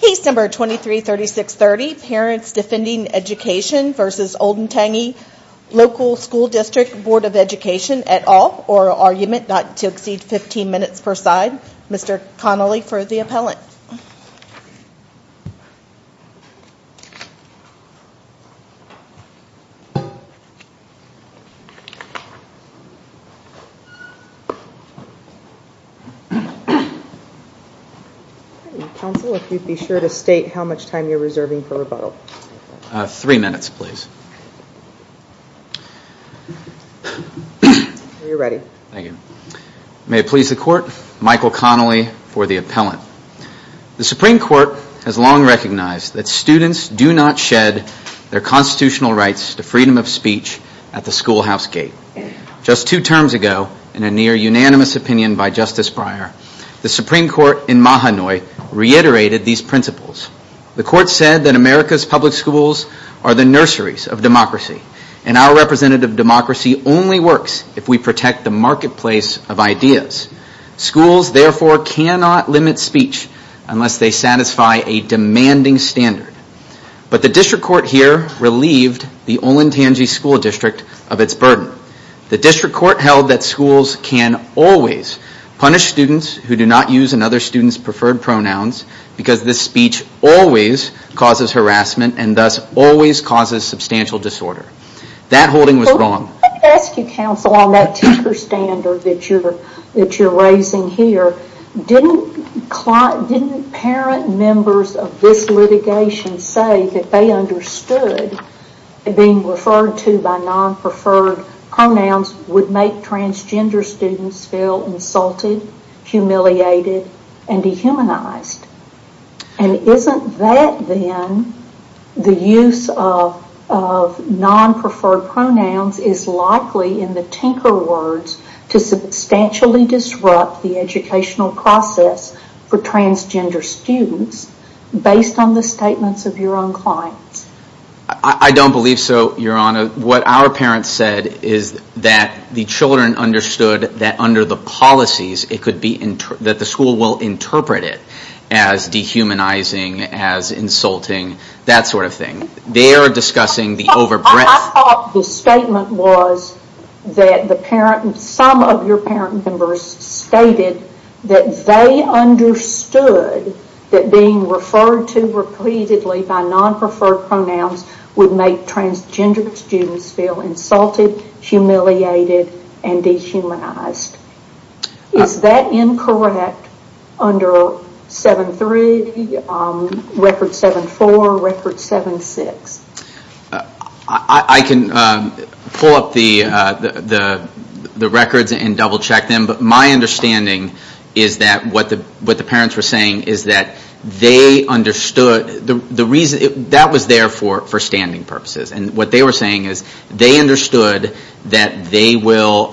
Case number 233630, Parents Defending Education v. Olentangy Local School District Board of Education et al. or argument not to exceed 15 minutes per side. Mr. Connolly for the appellant. The Supreme Court has long recognized that students do not shed their constitutional rights to freedom of speech at the schoolhouse gate. Just two terms ago, in a near unanimous opinion by Justice Breyer, the Supreme Court in Mahanoy reiterated these principles. The Court said that America's public schools are the nurseries of democracy, and our representative democracy only works if we protect the marketplace of ideas. Schools, therefore, cannot limit speech unless they satisfy a demanding standard. But the District Court here relieved the Olentangy School District of its burden. The District Court held that schools can always punish students who do not use another student's preferred pronouns because this speech always causes harassment and thus always causes substantial disorder. That holding was wrong. Let me ask you, counsel, on that tinker standard that you're raising here. Didn't parent members of this litigation say that they understood that being referred to by non-preferred pronouns would make transgender students feel insulted, humiliated, and dehumanized? Isn't that then the use of non-preferred pronouns is likely, in the tinker words, to substantially disrupt the educational process for transgender students based on the statements of your own clients? I don't believe so, Your Honor. What our parents said is that the children understood that under the policies it could be, that the school will interpret it as dehumanizing, as insulting, that sort of thing. They are discussing the over-breath. I thought the statement was that some of your parent members stated that they understood that being referred to repeatedly by non-preferred pronouns would make transgender students feel insulted, humiliated, and dehumanized. Is that incorrect under 7-3, record 7-4, record 7-6? I can pull up the records and double check them. But my understanding is that what the parents were saying is that they understood, that was there for standing purposes. And what they were saying is they understood that they will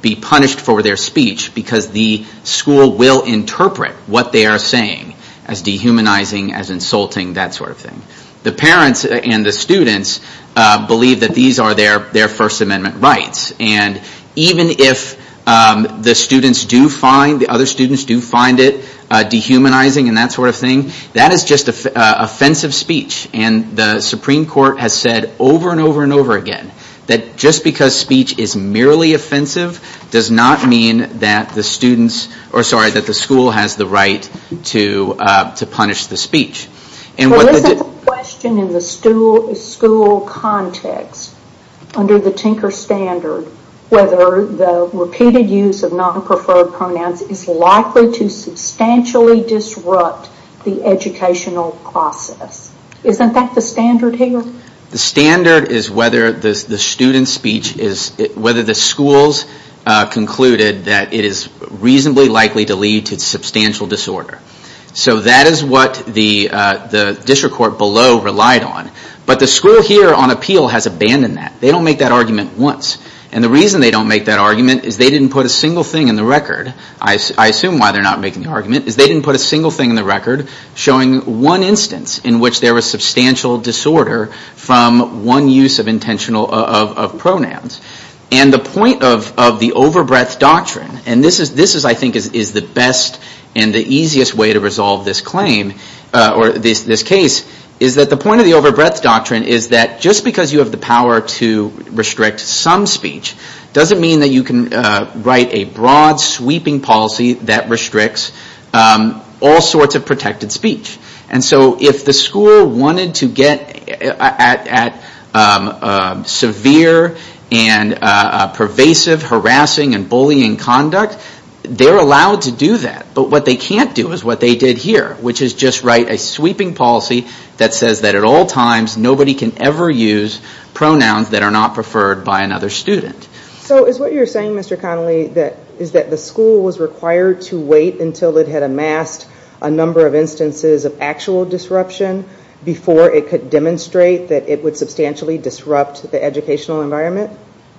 be punished for their speech because the school will interpret what they are saying as dehumanizing, as insulting, that sort of thing. The parents and the students believe that these are their First Amendment rights. And even if the students do find, the other students do find it dehumanizing and that sort of thing, that is just offensive speech. And the Supreme Court has said over and over and over again that just because speech is merely offensive does not mean that the school has the right to punish the speech. But isn't the question in the school context, under the Tinker Standard, whether the repeated use of non-preferred pronouns is likely to substantially disrupt the educational process? Isn't that the standard here? The standard is whether the student's speech is, whether the school's concluded that it is reasonably likely to lead to substantial disorder. So that is what the district court below relied on. But the school here on appeal has abandoned that. They don't make that argument once. And the reason they don't make that argument is they didn't put a single thing in the record, I assume why they are not making the argument, is they didn't put a single thing in the record showing one instance in which there was substantial disorder from one use of intentional, of pronouns. And the point of the over breadth doctrine, and this is I think is the best and the easiest way to resolve this claim, or this case, is that the point of the over breadth doctrine is that just because you have the power to restrict some speech doesn't mean that you can write a broad sweeping policy that restricts all sorts of protected speech. And so if the school is allowed to do that, but what they can't do is what they did here, which is just write a sweeping policy that says that at all times nobody can ever use pronouns that are not preferred by another student. So is what you are saying, Mr. Connolly, is that the school was required to wait until it had amassed a number of instances of actual disruption before it could demonstrate that it would substantially disrupt the educational environment?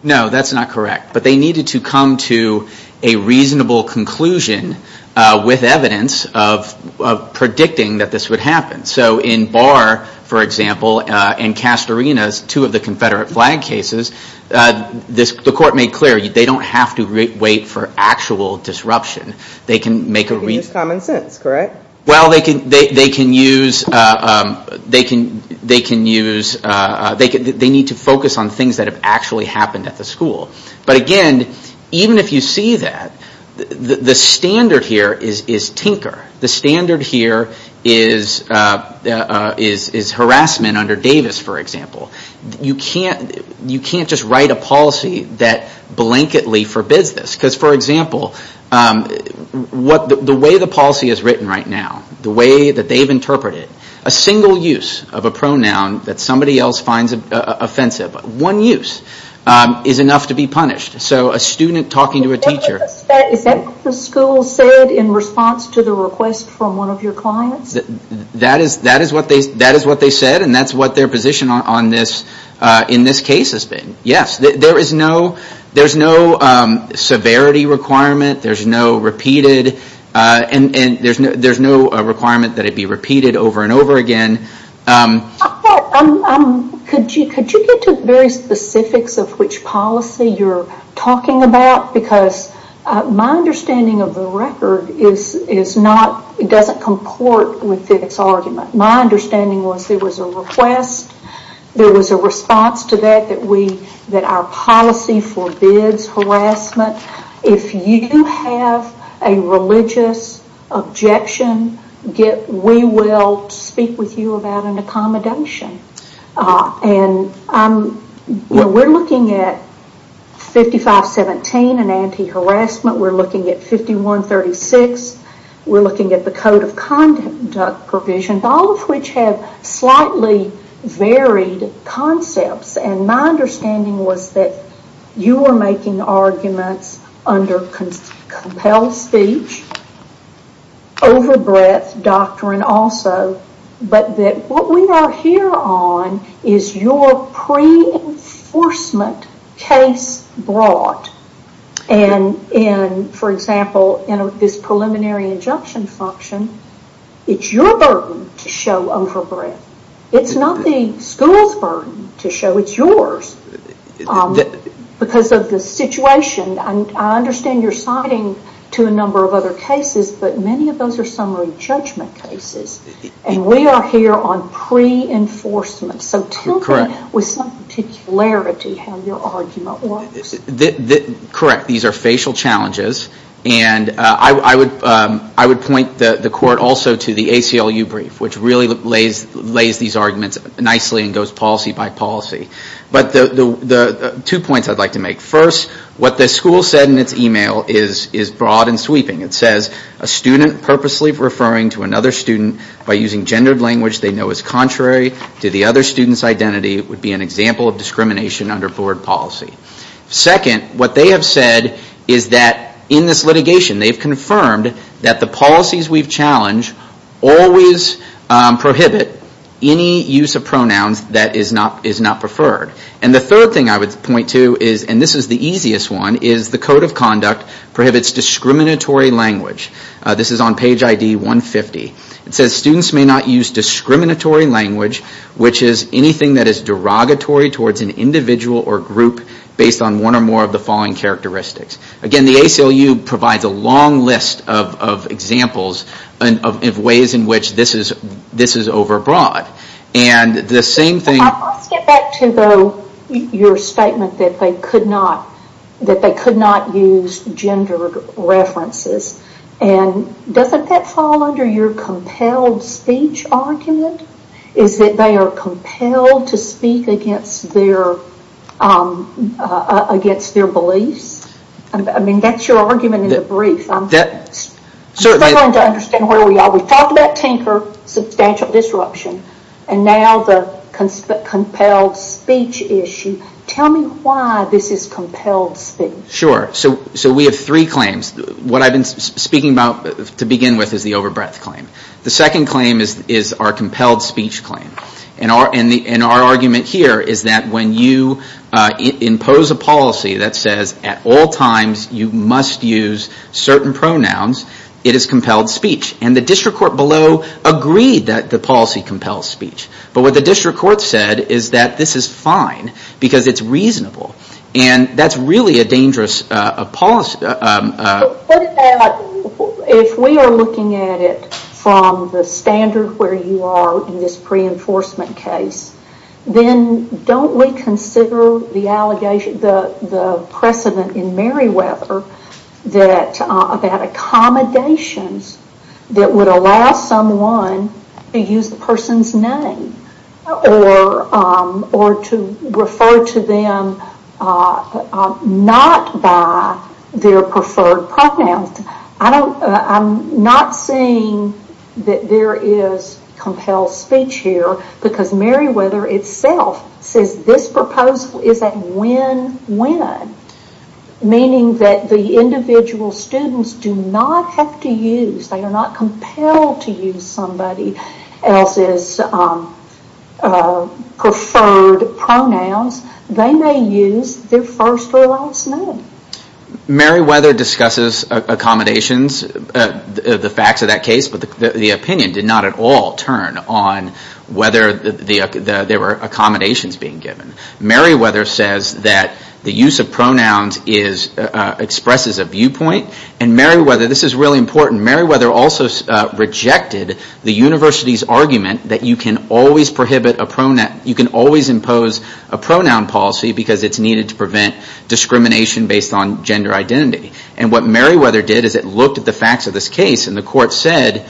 No, that's not correct. But they needed to come to a reasonable conclusion with evidence of predicting that this would happen. So in Barr, for example, and Castorina's, two of the Confederate flag cases, the court made clear they don't have to wait for actual disruption. They can make a reason. It's common sense, correct? Well, they can use, they can use, they need to focus on things that have actually happened at the school. But again, even if you see that, the standard here is tinker. The standard here is harassment under Davis, for example. You can't just write a policy that blanketly forbids this. Because, for example, the way the policy is written right now, the way that they've interpreted, a single use of a pronoun that somebody else finds offensive, one use, is enough to be punished. So a student talking to a teacher... Is that what the school said in response to the request from one of your clients? That is what they said, and that's what their position on this, in this case, has been. Yes, there is no severity requirement, there is no repeated, and there's no requirement that it be repeated over and over again. Could you get to the very specifics of which policy you're talking about? Because my understanding of the record is not, it doesn't comport with Fiddick's argument. My understanding was there was a request, there was a response to that, that we, that our policy forbids harassment. If you have a religious objection, we will speak with you about an accommodation. We're looking at 5517, an anti-harassment, we're looking at 5136, we're looking at the Code of Conduct provision, all of which have slightly varied concepts, and my understanding was that you were making arguments under compelled speech, over breadth doctrine also, but that what we are here on is your pre-enforcement case brought, and for example, in this preliminary injunction function, it's your burden to show over breadth. It's not the school's burden to show it's yours, because of the situation. I understand you're citing to a number of other cases, but many of those are summary judgment cases, and we are here on pre-enforcement. So tell me with some particularity how your argument works. Correct. These are facial challenges, and I would point the Court also to the ACLU brief, which really lays these arguments nicely and goes policy by policy. But the two points I'd like to make. First, what the school said in its email is broad and sweeping. It says a student purposely referring to another student by using gendered language they know is contrary to the other student's identity would be an example of discrimination under board policy. Second, what they have said is that in this litigation, they've confirmed that the policies we've challenged always prohibit any use of pronouns that is not preferred. And the third thing I would point to is, and this is the easiest one, is the Code of Conduct prohibits discriminatory language. This is on page ID 150. It says students may not use discriminatory language, which is anything that is derogatory towards an individual or group based on one or more of the following characteristics. Again, the ACLU provides a long list of examples of ways in which this is over broad. And the same thing... Let's get back to your statement that they could not use gendered references. Doesn't that fall under your compelled speech argument? Is that they are compelled to speak against their beliefs? That's your argument in the brief. I'm trying to understand where we are. You talked about tinker, substantial disruption, and now the compelled speech issue. Tell me why this is compelled speech. Sure. So we have three claims. What I've been speaking about to begin with is the over breadth claim. The second claim is our compelled speech claim. And our argument here is that when you impose a policy that says at all times you must use certain pronouns, it is compelled speech. And the district court below agreed that the policy compels speech. But what the district court said is that this is fine because it's reasonable. And that's really a dangerous policy. If we are looking at it from the standard where you are in this pre-enforcement case, then don't we consider the precedent in Meriwether that accommodations are not necessarily that would allow someone to use the person's name or to refer to them not by their preferred pronouns. I'm not saying that there is compelled speech here because Meriwether itself says this proposal is a win-win. Meaning that the individual students do not have to use their first or last name. They are not compelled to use somebody else's preferred pronouns. They may use their first or last name. Meriwether discusses accommodations, the facts of that case. But the opinion did not at all turn on whether there were accommodations being given. Meriwether says that the use of pronouns expresses a viewpoint. And Meriwether also rejected the university's argument that you can always impose a pronoun policy because it's needed to prevent discrimination based on gender identity. And what Meriwether did is it looked at the facts of this case and the court said,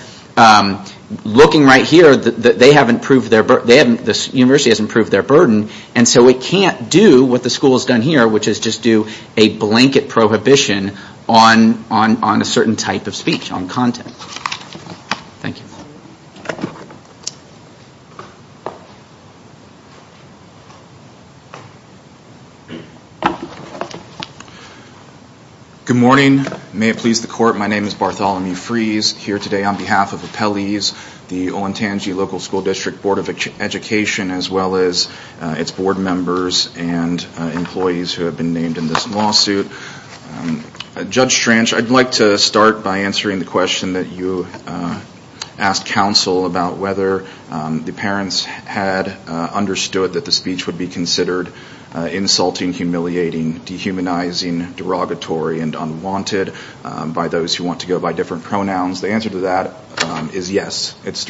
looking right here, that the university hasn't proved their burden and so it can't do what the school has done here, which is just do a blanket prohibition on a certain type of speech, on content. Good morning. May it please the court, my name is Bartholomew Freese. Here today on behalf of Appellees, the Olentangy Local School District Board of Education as well as its board members and employees who have been named in this lawsuit. Judge Strange, I'd like to start by answering the question that you asked counsel about whether the parents had understood that the speech would be considered insulting, humiliating, dehumanizing, derogatory and unwanted by those who want to go by different pronouns. The answer to that is yes. It's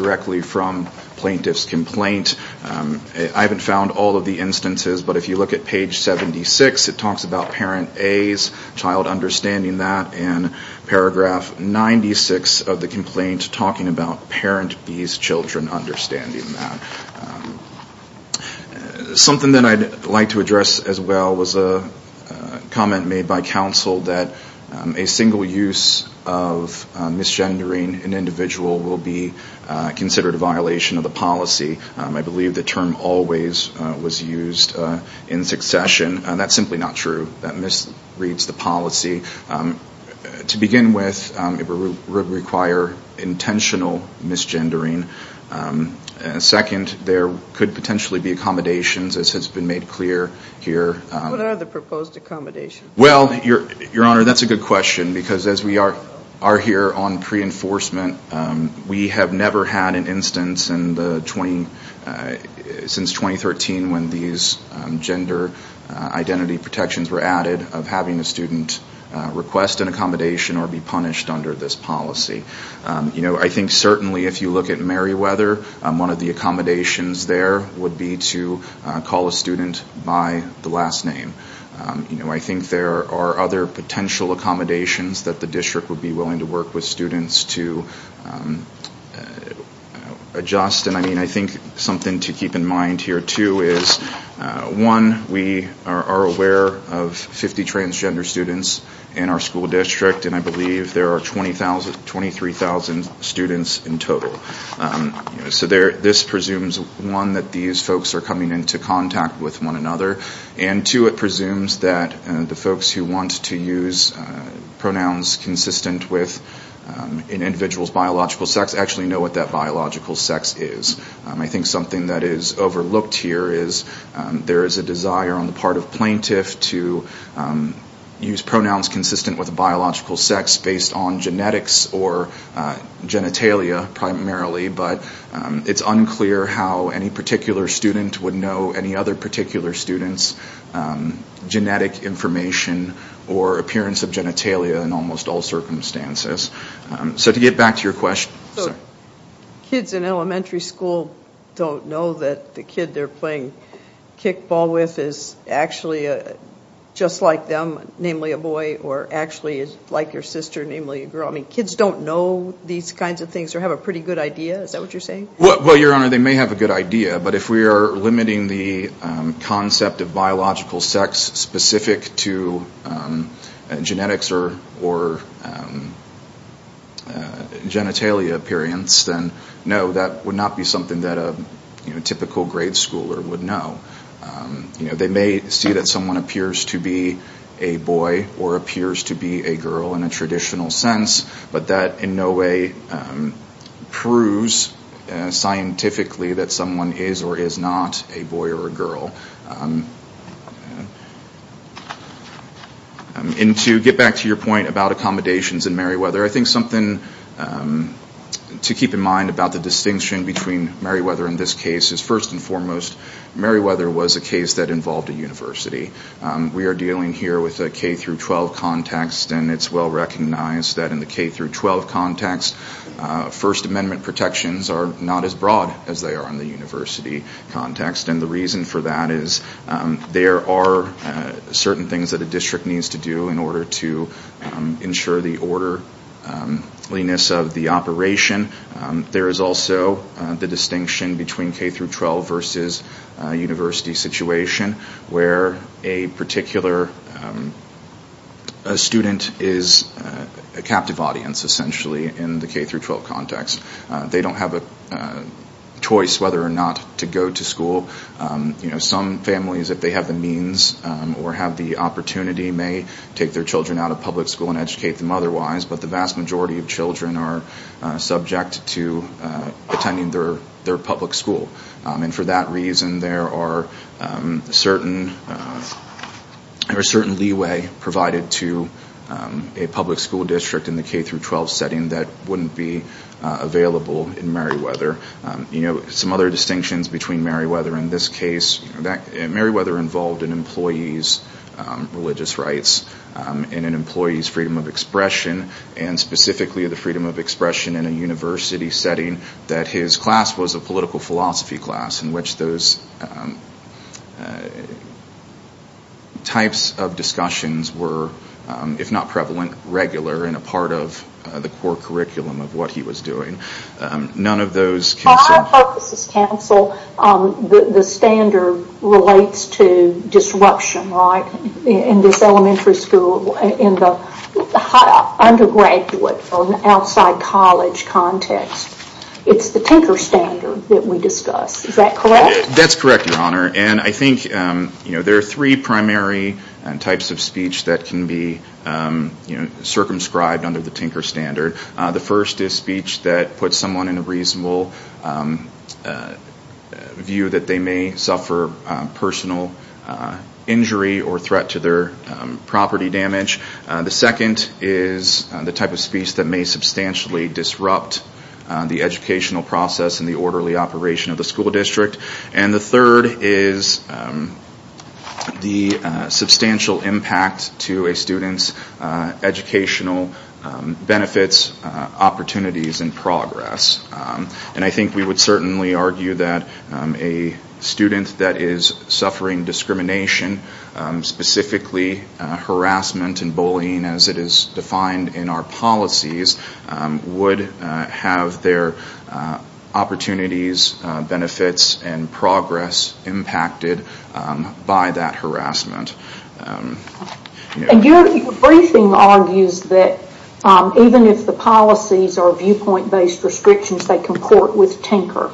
found all of the instances, but if you look at page 76, it talks about parent A's child understanding that and paragraph 96 of the complaint talking about parent B's children understanding that. Something that I'd like to address as well was a comment made by counsel that a single use of misgendering an individual will be considered a violation of the policy. I believe the term always was used in succession. That's simply not true. That misreads the policy. To begin with, it would require intentional misgendering. Second, there could potentially be accommodations as has been made clear here. What are the proposed accommodations? Well your honor, that's a good question because as we are here on pre-enforcement, we have never had an instance since 2013 when these gender identity protections were added of having a student request an accommodation or be punished under this policy. I think certainly if you look at Meriwether, one of the accommodations there would be to call a student by the last name. I think there are other potential accommodations that the district would be willing to work with students to adjust. I think something to keep in mind here too is one, we are aware of 50 transgender students in our school district and I believe there are 23,000 students in total. This presumes one, that these folks are coming into contact with one another and two, it presumes that the folks who want to use pronouns consistent with an individual's biological sex actually know what that biological sex is. I think something that is overlooked here is there is a desire on the part of plaintiff to use pronouns consistent with biological sex based on genetics or genitalia primarily, but it's unclear how any particular student would know any other particular student's genetic information or appearance of genitalia in almost all circumstances. So to get back to your question... So kids in elementary school don't know that the kid they are playing kickball with is actually just like them, namely a boy or actually like your sister, namely a girl. I mean kids don't know these kinds of things or have a pretty good idea, is that what you are saying? Well, your honor, they may have a good idea, but if we are limiting the concept of biological sex specific to genetics or genitalia appearance, then no, that would not be something that a typical grade schooler would know. They may see that someone appears to be a boy or appears to be a girl in a traditional sense, but that in no way proves scientifically that someone is or is not a boy or a girl. To get back to your point about accommodations in Meriwether, I think something to keep in mind about the distinction between Meriwether and this case is first and foremost Meriwether was a case that involved a university. We are dealing here with a K-12 context and it is well recognized that in the K-12 context, first amendment protections are not as broad as they are in the university context and the reason for that is there are certain things that a district needs to do in order to ensure the orderliness of the operation. There is also the distinction between K-12 versus university situation where a particular student is a captive audience essentially in the K-12 context. They don't have a choice whether or not to go to school. Some families, if they have the means or have the opportunity, may take their children out of public school and educate them otherwise, but the vast majority of children are subject to attending their public school and for that reason there are certain leeway provided to a public school district in the K-12 setting that wouldn't be available in Meriwether. Some other distinctions between Meriwether and this case, Meriweather involved an employee's religious rights and an employee's freedom of expression and specifically the freedom of expression in a university setting that his class was a political philosophy class in which those types of discussions were, if not prevalent, regular and a part of the core curriculum of what he was doing. None of those can be said. Well, the standard relates to disruption, right? In this elementary school, in the undergraduate or outside college context, it's the Tinker Standard that we discuss. Is that correct? That's correct, Your Honor, and I think there are three primary types of speech that can be circumscribed under the Tinker Standard. The first is speech that puts someone in a view that they may suffer personal injury or threat to their property damage. The second is the type of speech that may substantially disrupt the educational process and the orderly operation of the school district. And the third is the substantial impact to a student's educational benefits, opportunities, and progress. And I think we would certainly argue that a student that is suffering discrimination, specifically harassment and bullying as it is defined in our policies, would have their opportunities, benefits, and progress impacted by that harassment. Your briefing argues that even if the policies are viewpoint-based restrictions, they comport with Tinker.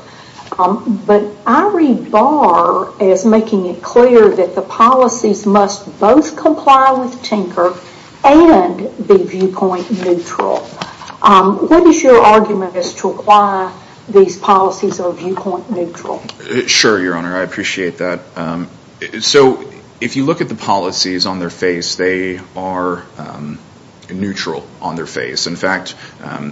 But I read Barr as making it clear that the policies must both comply with Tinker and be viewpoint-neutral. What is your argument as to why these policies are viewpoint-neutral? Sure, Your Honor, I appreciate that. If you look at the policies on their face, they are neutral on their face. In fact,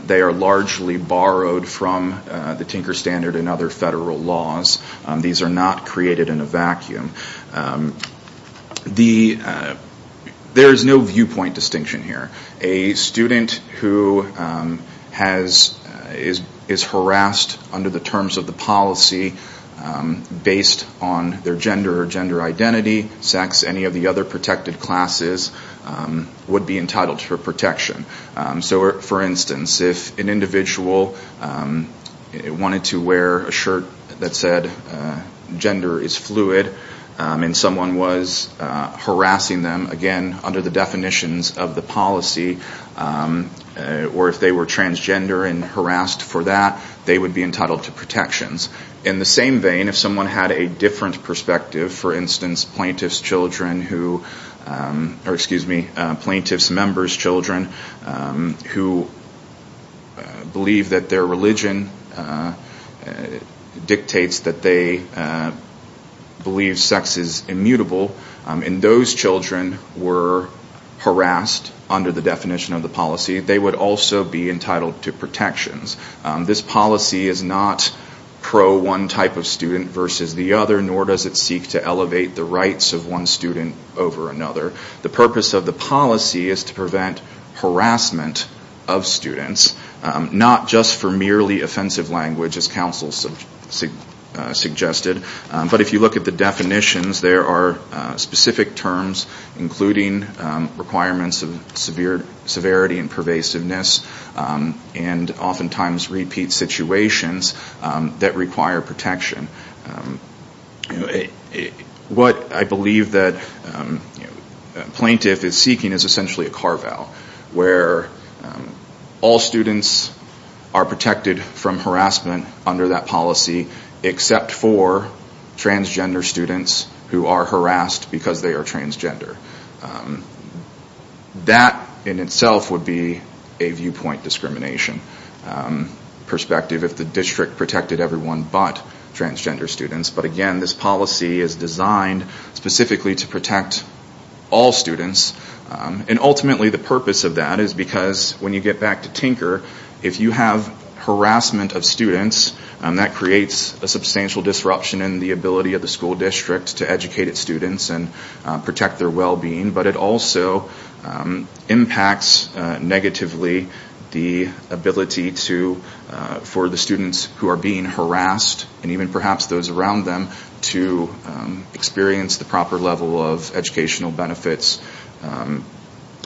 they are largely borrowed from the Tinker Standard and other federal laws. These are not created in a vacuum. There is no viewpoint distinction here. A student who is harassed under the Tinker Standard or any of the other protected classes would be entitled to protection. So for instance, if an individual wanted to wear a shirt that said, gender is fluid, and someone was harassing them, again, under the definitions of the policy, or if they were transgender and harassed for that, they would be entitled to protections. In the same vein, if someone had a different perspective, for instance, plaintiff's children who, or excuse me, plaintiff's members' children, who believe that their religion dictates that they believe sex is immutable, and those children were harassed under the definition of the policy, they would also be entitled to protections. This policy is not pro one type of student versus the other, nor does it seek to elevate the rights of one student over another. The purpose of the policy is to prevent harassment of students, not just for merely offensive language as counsel suggested, but if you look at the definitions, there are specific terms including requirements of severity and pervasiveness, and oftentimes repeat situations that require protection. What I believe that plaintiff is seeking is essentially a carve out, where all students are protected from harassment under that policy except for transgender students who are harassed because they are transgender. That in itself would be a viewpoint discrimination perspective, if the district protected everyone but transgender students, but again this policy is designed specifically to protect all students, and ultimately the purpose of that is because when you get back to Tinker, if you have harassment of students, that creates a substantial disruption in the ability of the school district to educate its students and protect their well-being, but it also impacts negatively the ability for the students who are being harassed, and even perhaps those around them, to experience the proper level of educational benefits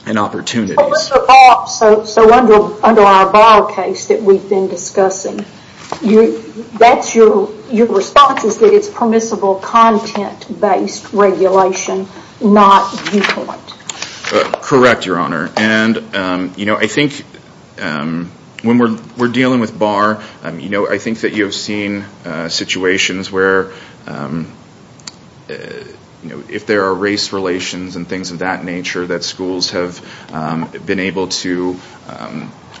and opportunities. Let's recall, so under our bar case that we've been discussing, your response is that it's permissible content-based regulation, not viewpoint. Correct, your honor, and I think when we're dealing with bar, I think that you've seen situations where if there are race relations and things of that nature, that schools have been able to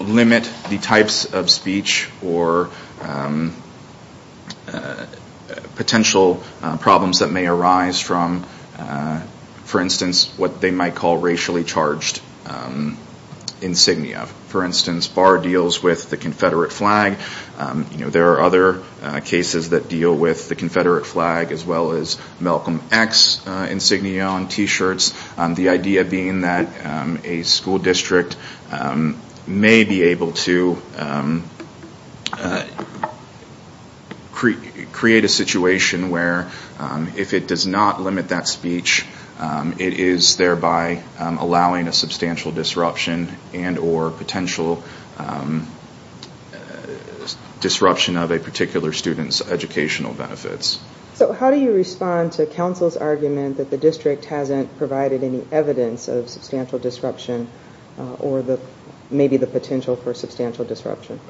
limit the types of speech or potentially limit the types of speech that potential problems that may arise from, for instance, what they might call racially charged insignia. For instance, bar deals with the confederate flag, there are other cases that deal with the confederate flag, as well as Malcolm X insignia on t-shirts, the idea being that a school district may be able to create a situation where, for example, a student may be able to create a situation where, if it does not limit that speech, it is thereby allowing a substantial disruption and or potential disruption of a particular student's educational benefits. So how do you respond to counsel's argument that the district hasn't provided any evidence of substantial disruption or maybe the potential for substantial disruption?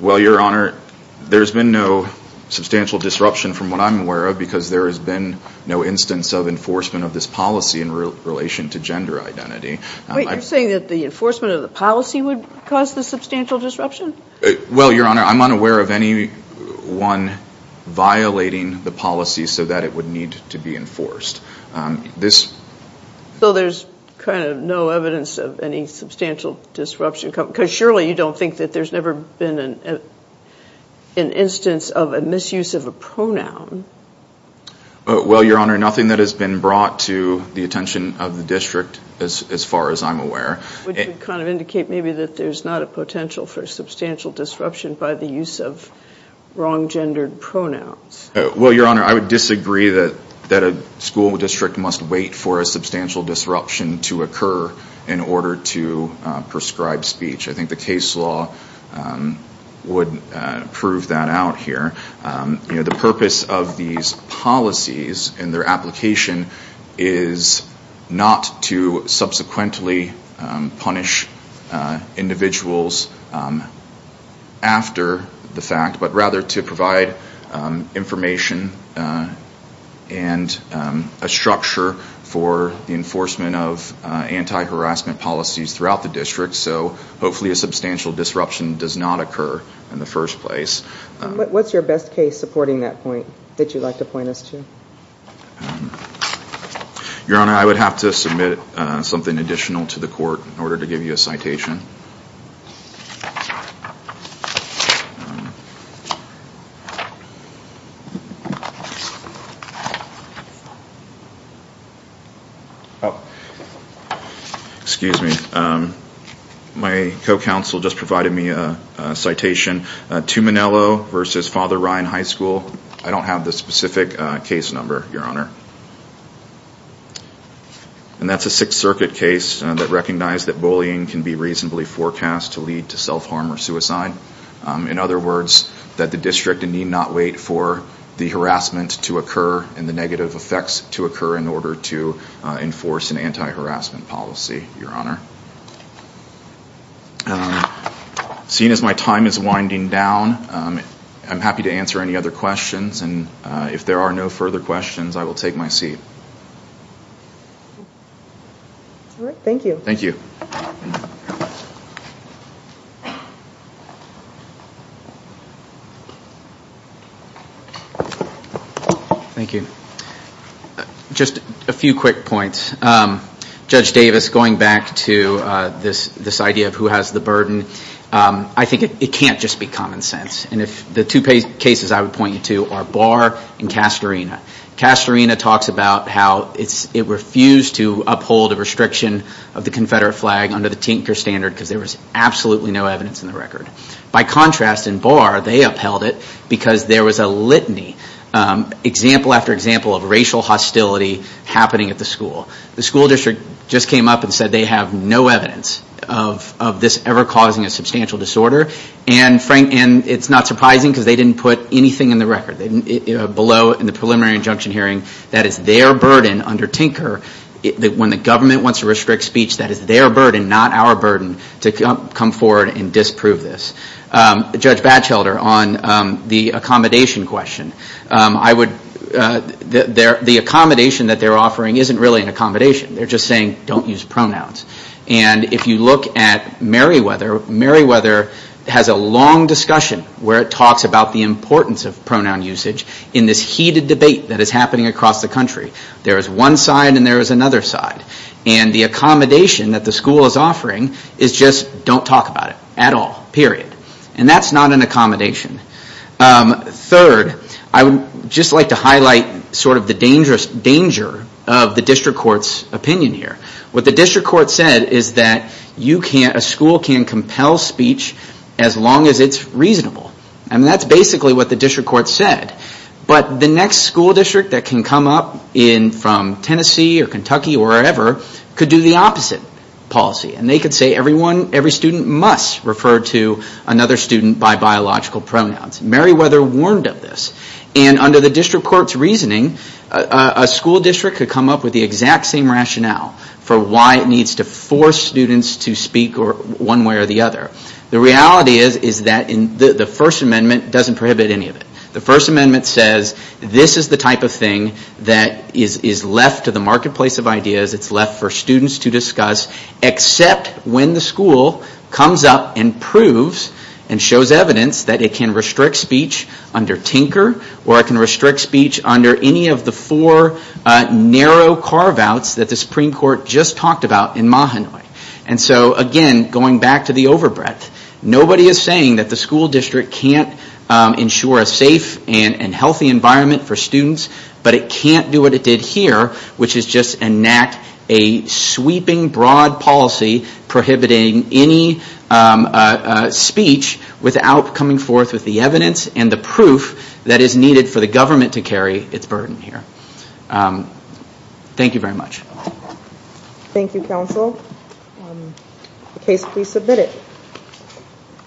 Well, your honor, there's been no substantial disruption from what I'm aware of because there has been no instance of enforcement of this policy in relation to gender identity. Wait, you're saying that the enforcement of the policy would cause the substantial disruption? Well your honor, I'm unaware of anyone violating the policy so that it would need to be enforced. So there's kind of no evidence of any substantial disruption, because surely you don't think that there's never been an instance of a misuse of a pronoun? Well your honor, nothing that has been brought to the attention of the district as far as I'm aware. Would you kind of indicate maybe that there's not a potential for substantial disruption by the use of wrong gendered pronouns? Well your honor, I would disagree that a school district must wait for a substantial disruption to occur in order to prescribe speech. I think the case law would prove that out here. The purpose of these policies and their application is not to subsequently punish individuals after the fact, but rather to provide information and a structure for the enforcement of the anti-harassment policies throughout the district, so hopefully a substantial disruption does not occur in the first place. What's your best case supporting that point that you'd like to point us to? Your honor, I would have to submit something additional to the court in order to give you a citation. Excuse me, my co-counsel just provided me a citation, Tuminello vs. Father Ryan High School. I don't have the specific case number, your honor. And that's a Sixth Circuit case that recognized that bullying can be reasonably forecast to lead to self-harm or suicide. In other words, that the district need not wait for the harassment to occur and the negative effects to occur in order to enforce an anti-harassment policy, your honor. Seeing as my time is winding down, I'm happy to answer any other questions and if there are no further questions, I will take my seat. Just a few quick points. Judge Davis, going back to this idea of who has the burden, I think it can't just be common sense. The two cases I would point you to are Barr and Castorina. Castorina talks about how it refused to uphold a restriction of the Confederate flag under the Tinker Standard because there was absolutely no evidence in the record. By contrast, in Barr, they upheld it because there was a litany, example after example, of racial hostility happening at the school. The school district just came up and said they have no evidence of this ever causing a substantial disorder and it's not surprising because they didn't put anything in the record. Below in the preliminary injunction hearing, that is their burden under Tinker. When the government wants to restrict speech, that is their burden, not our burden to come forward and disprove this. Judge Batchelder, on the accommodation question, the accommodation that they're offering isn't really an accommodation. They're just saying don't use pronouns. If you look at Meriwether, Meriwether has a long discussion where it talks about the importance of pronoun usage in this heated debate that is happening across the country. There is one side and there is another side. The accommodation that the school is offering is just don't talk about it at all, period. That's not an accommodation. Third, I would just like to highlight the danger of the district court's opinion here. What the district court said is that a school can compel speech as long as it's reasonable. That's basically what the district court said. But the next school district that can come up from Tennessee or Kentucky or wherever could do the opposite policy. They could say every student must refer to another student by biological pronouns. Meriwether warned of this. Under the district court's reasoning, a school district could come up with the exact same rationale for why it needs to force students to speak one way or the other. The reality is that the First Amendment doesn't prohibit any of it. The First Amendment says this is the type of thing that is left to the marketplace of ideas. It's left for students to discuss except when the school comes up and proves and shows evidence that it can restrict speech under Tinker or it can restrict speech under any of the four narrow carve-outs that the Supreme Court just talked about in Mahanoy. So again, going back to the overbreadth, nobody is saying that the school district can't ensure a safe and healthy environment for students, but it can't do what it did here, which is enact a sweeping broad policy prohibiting any speech without coming forth with the evidence and the proof that is needed for the government to carry its burden here. Thank you very much.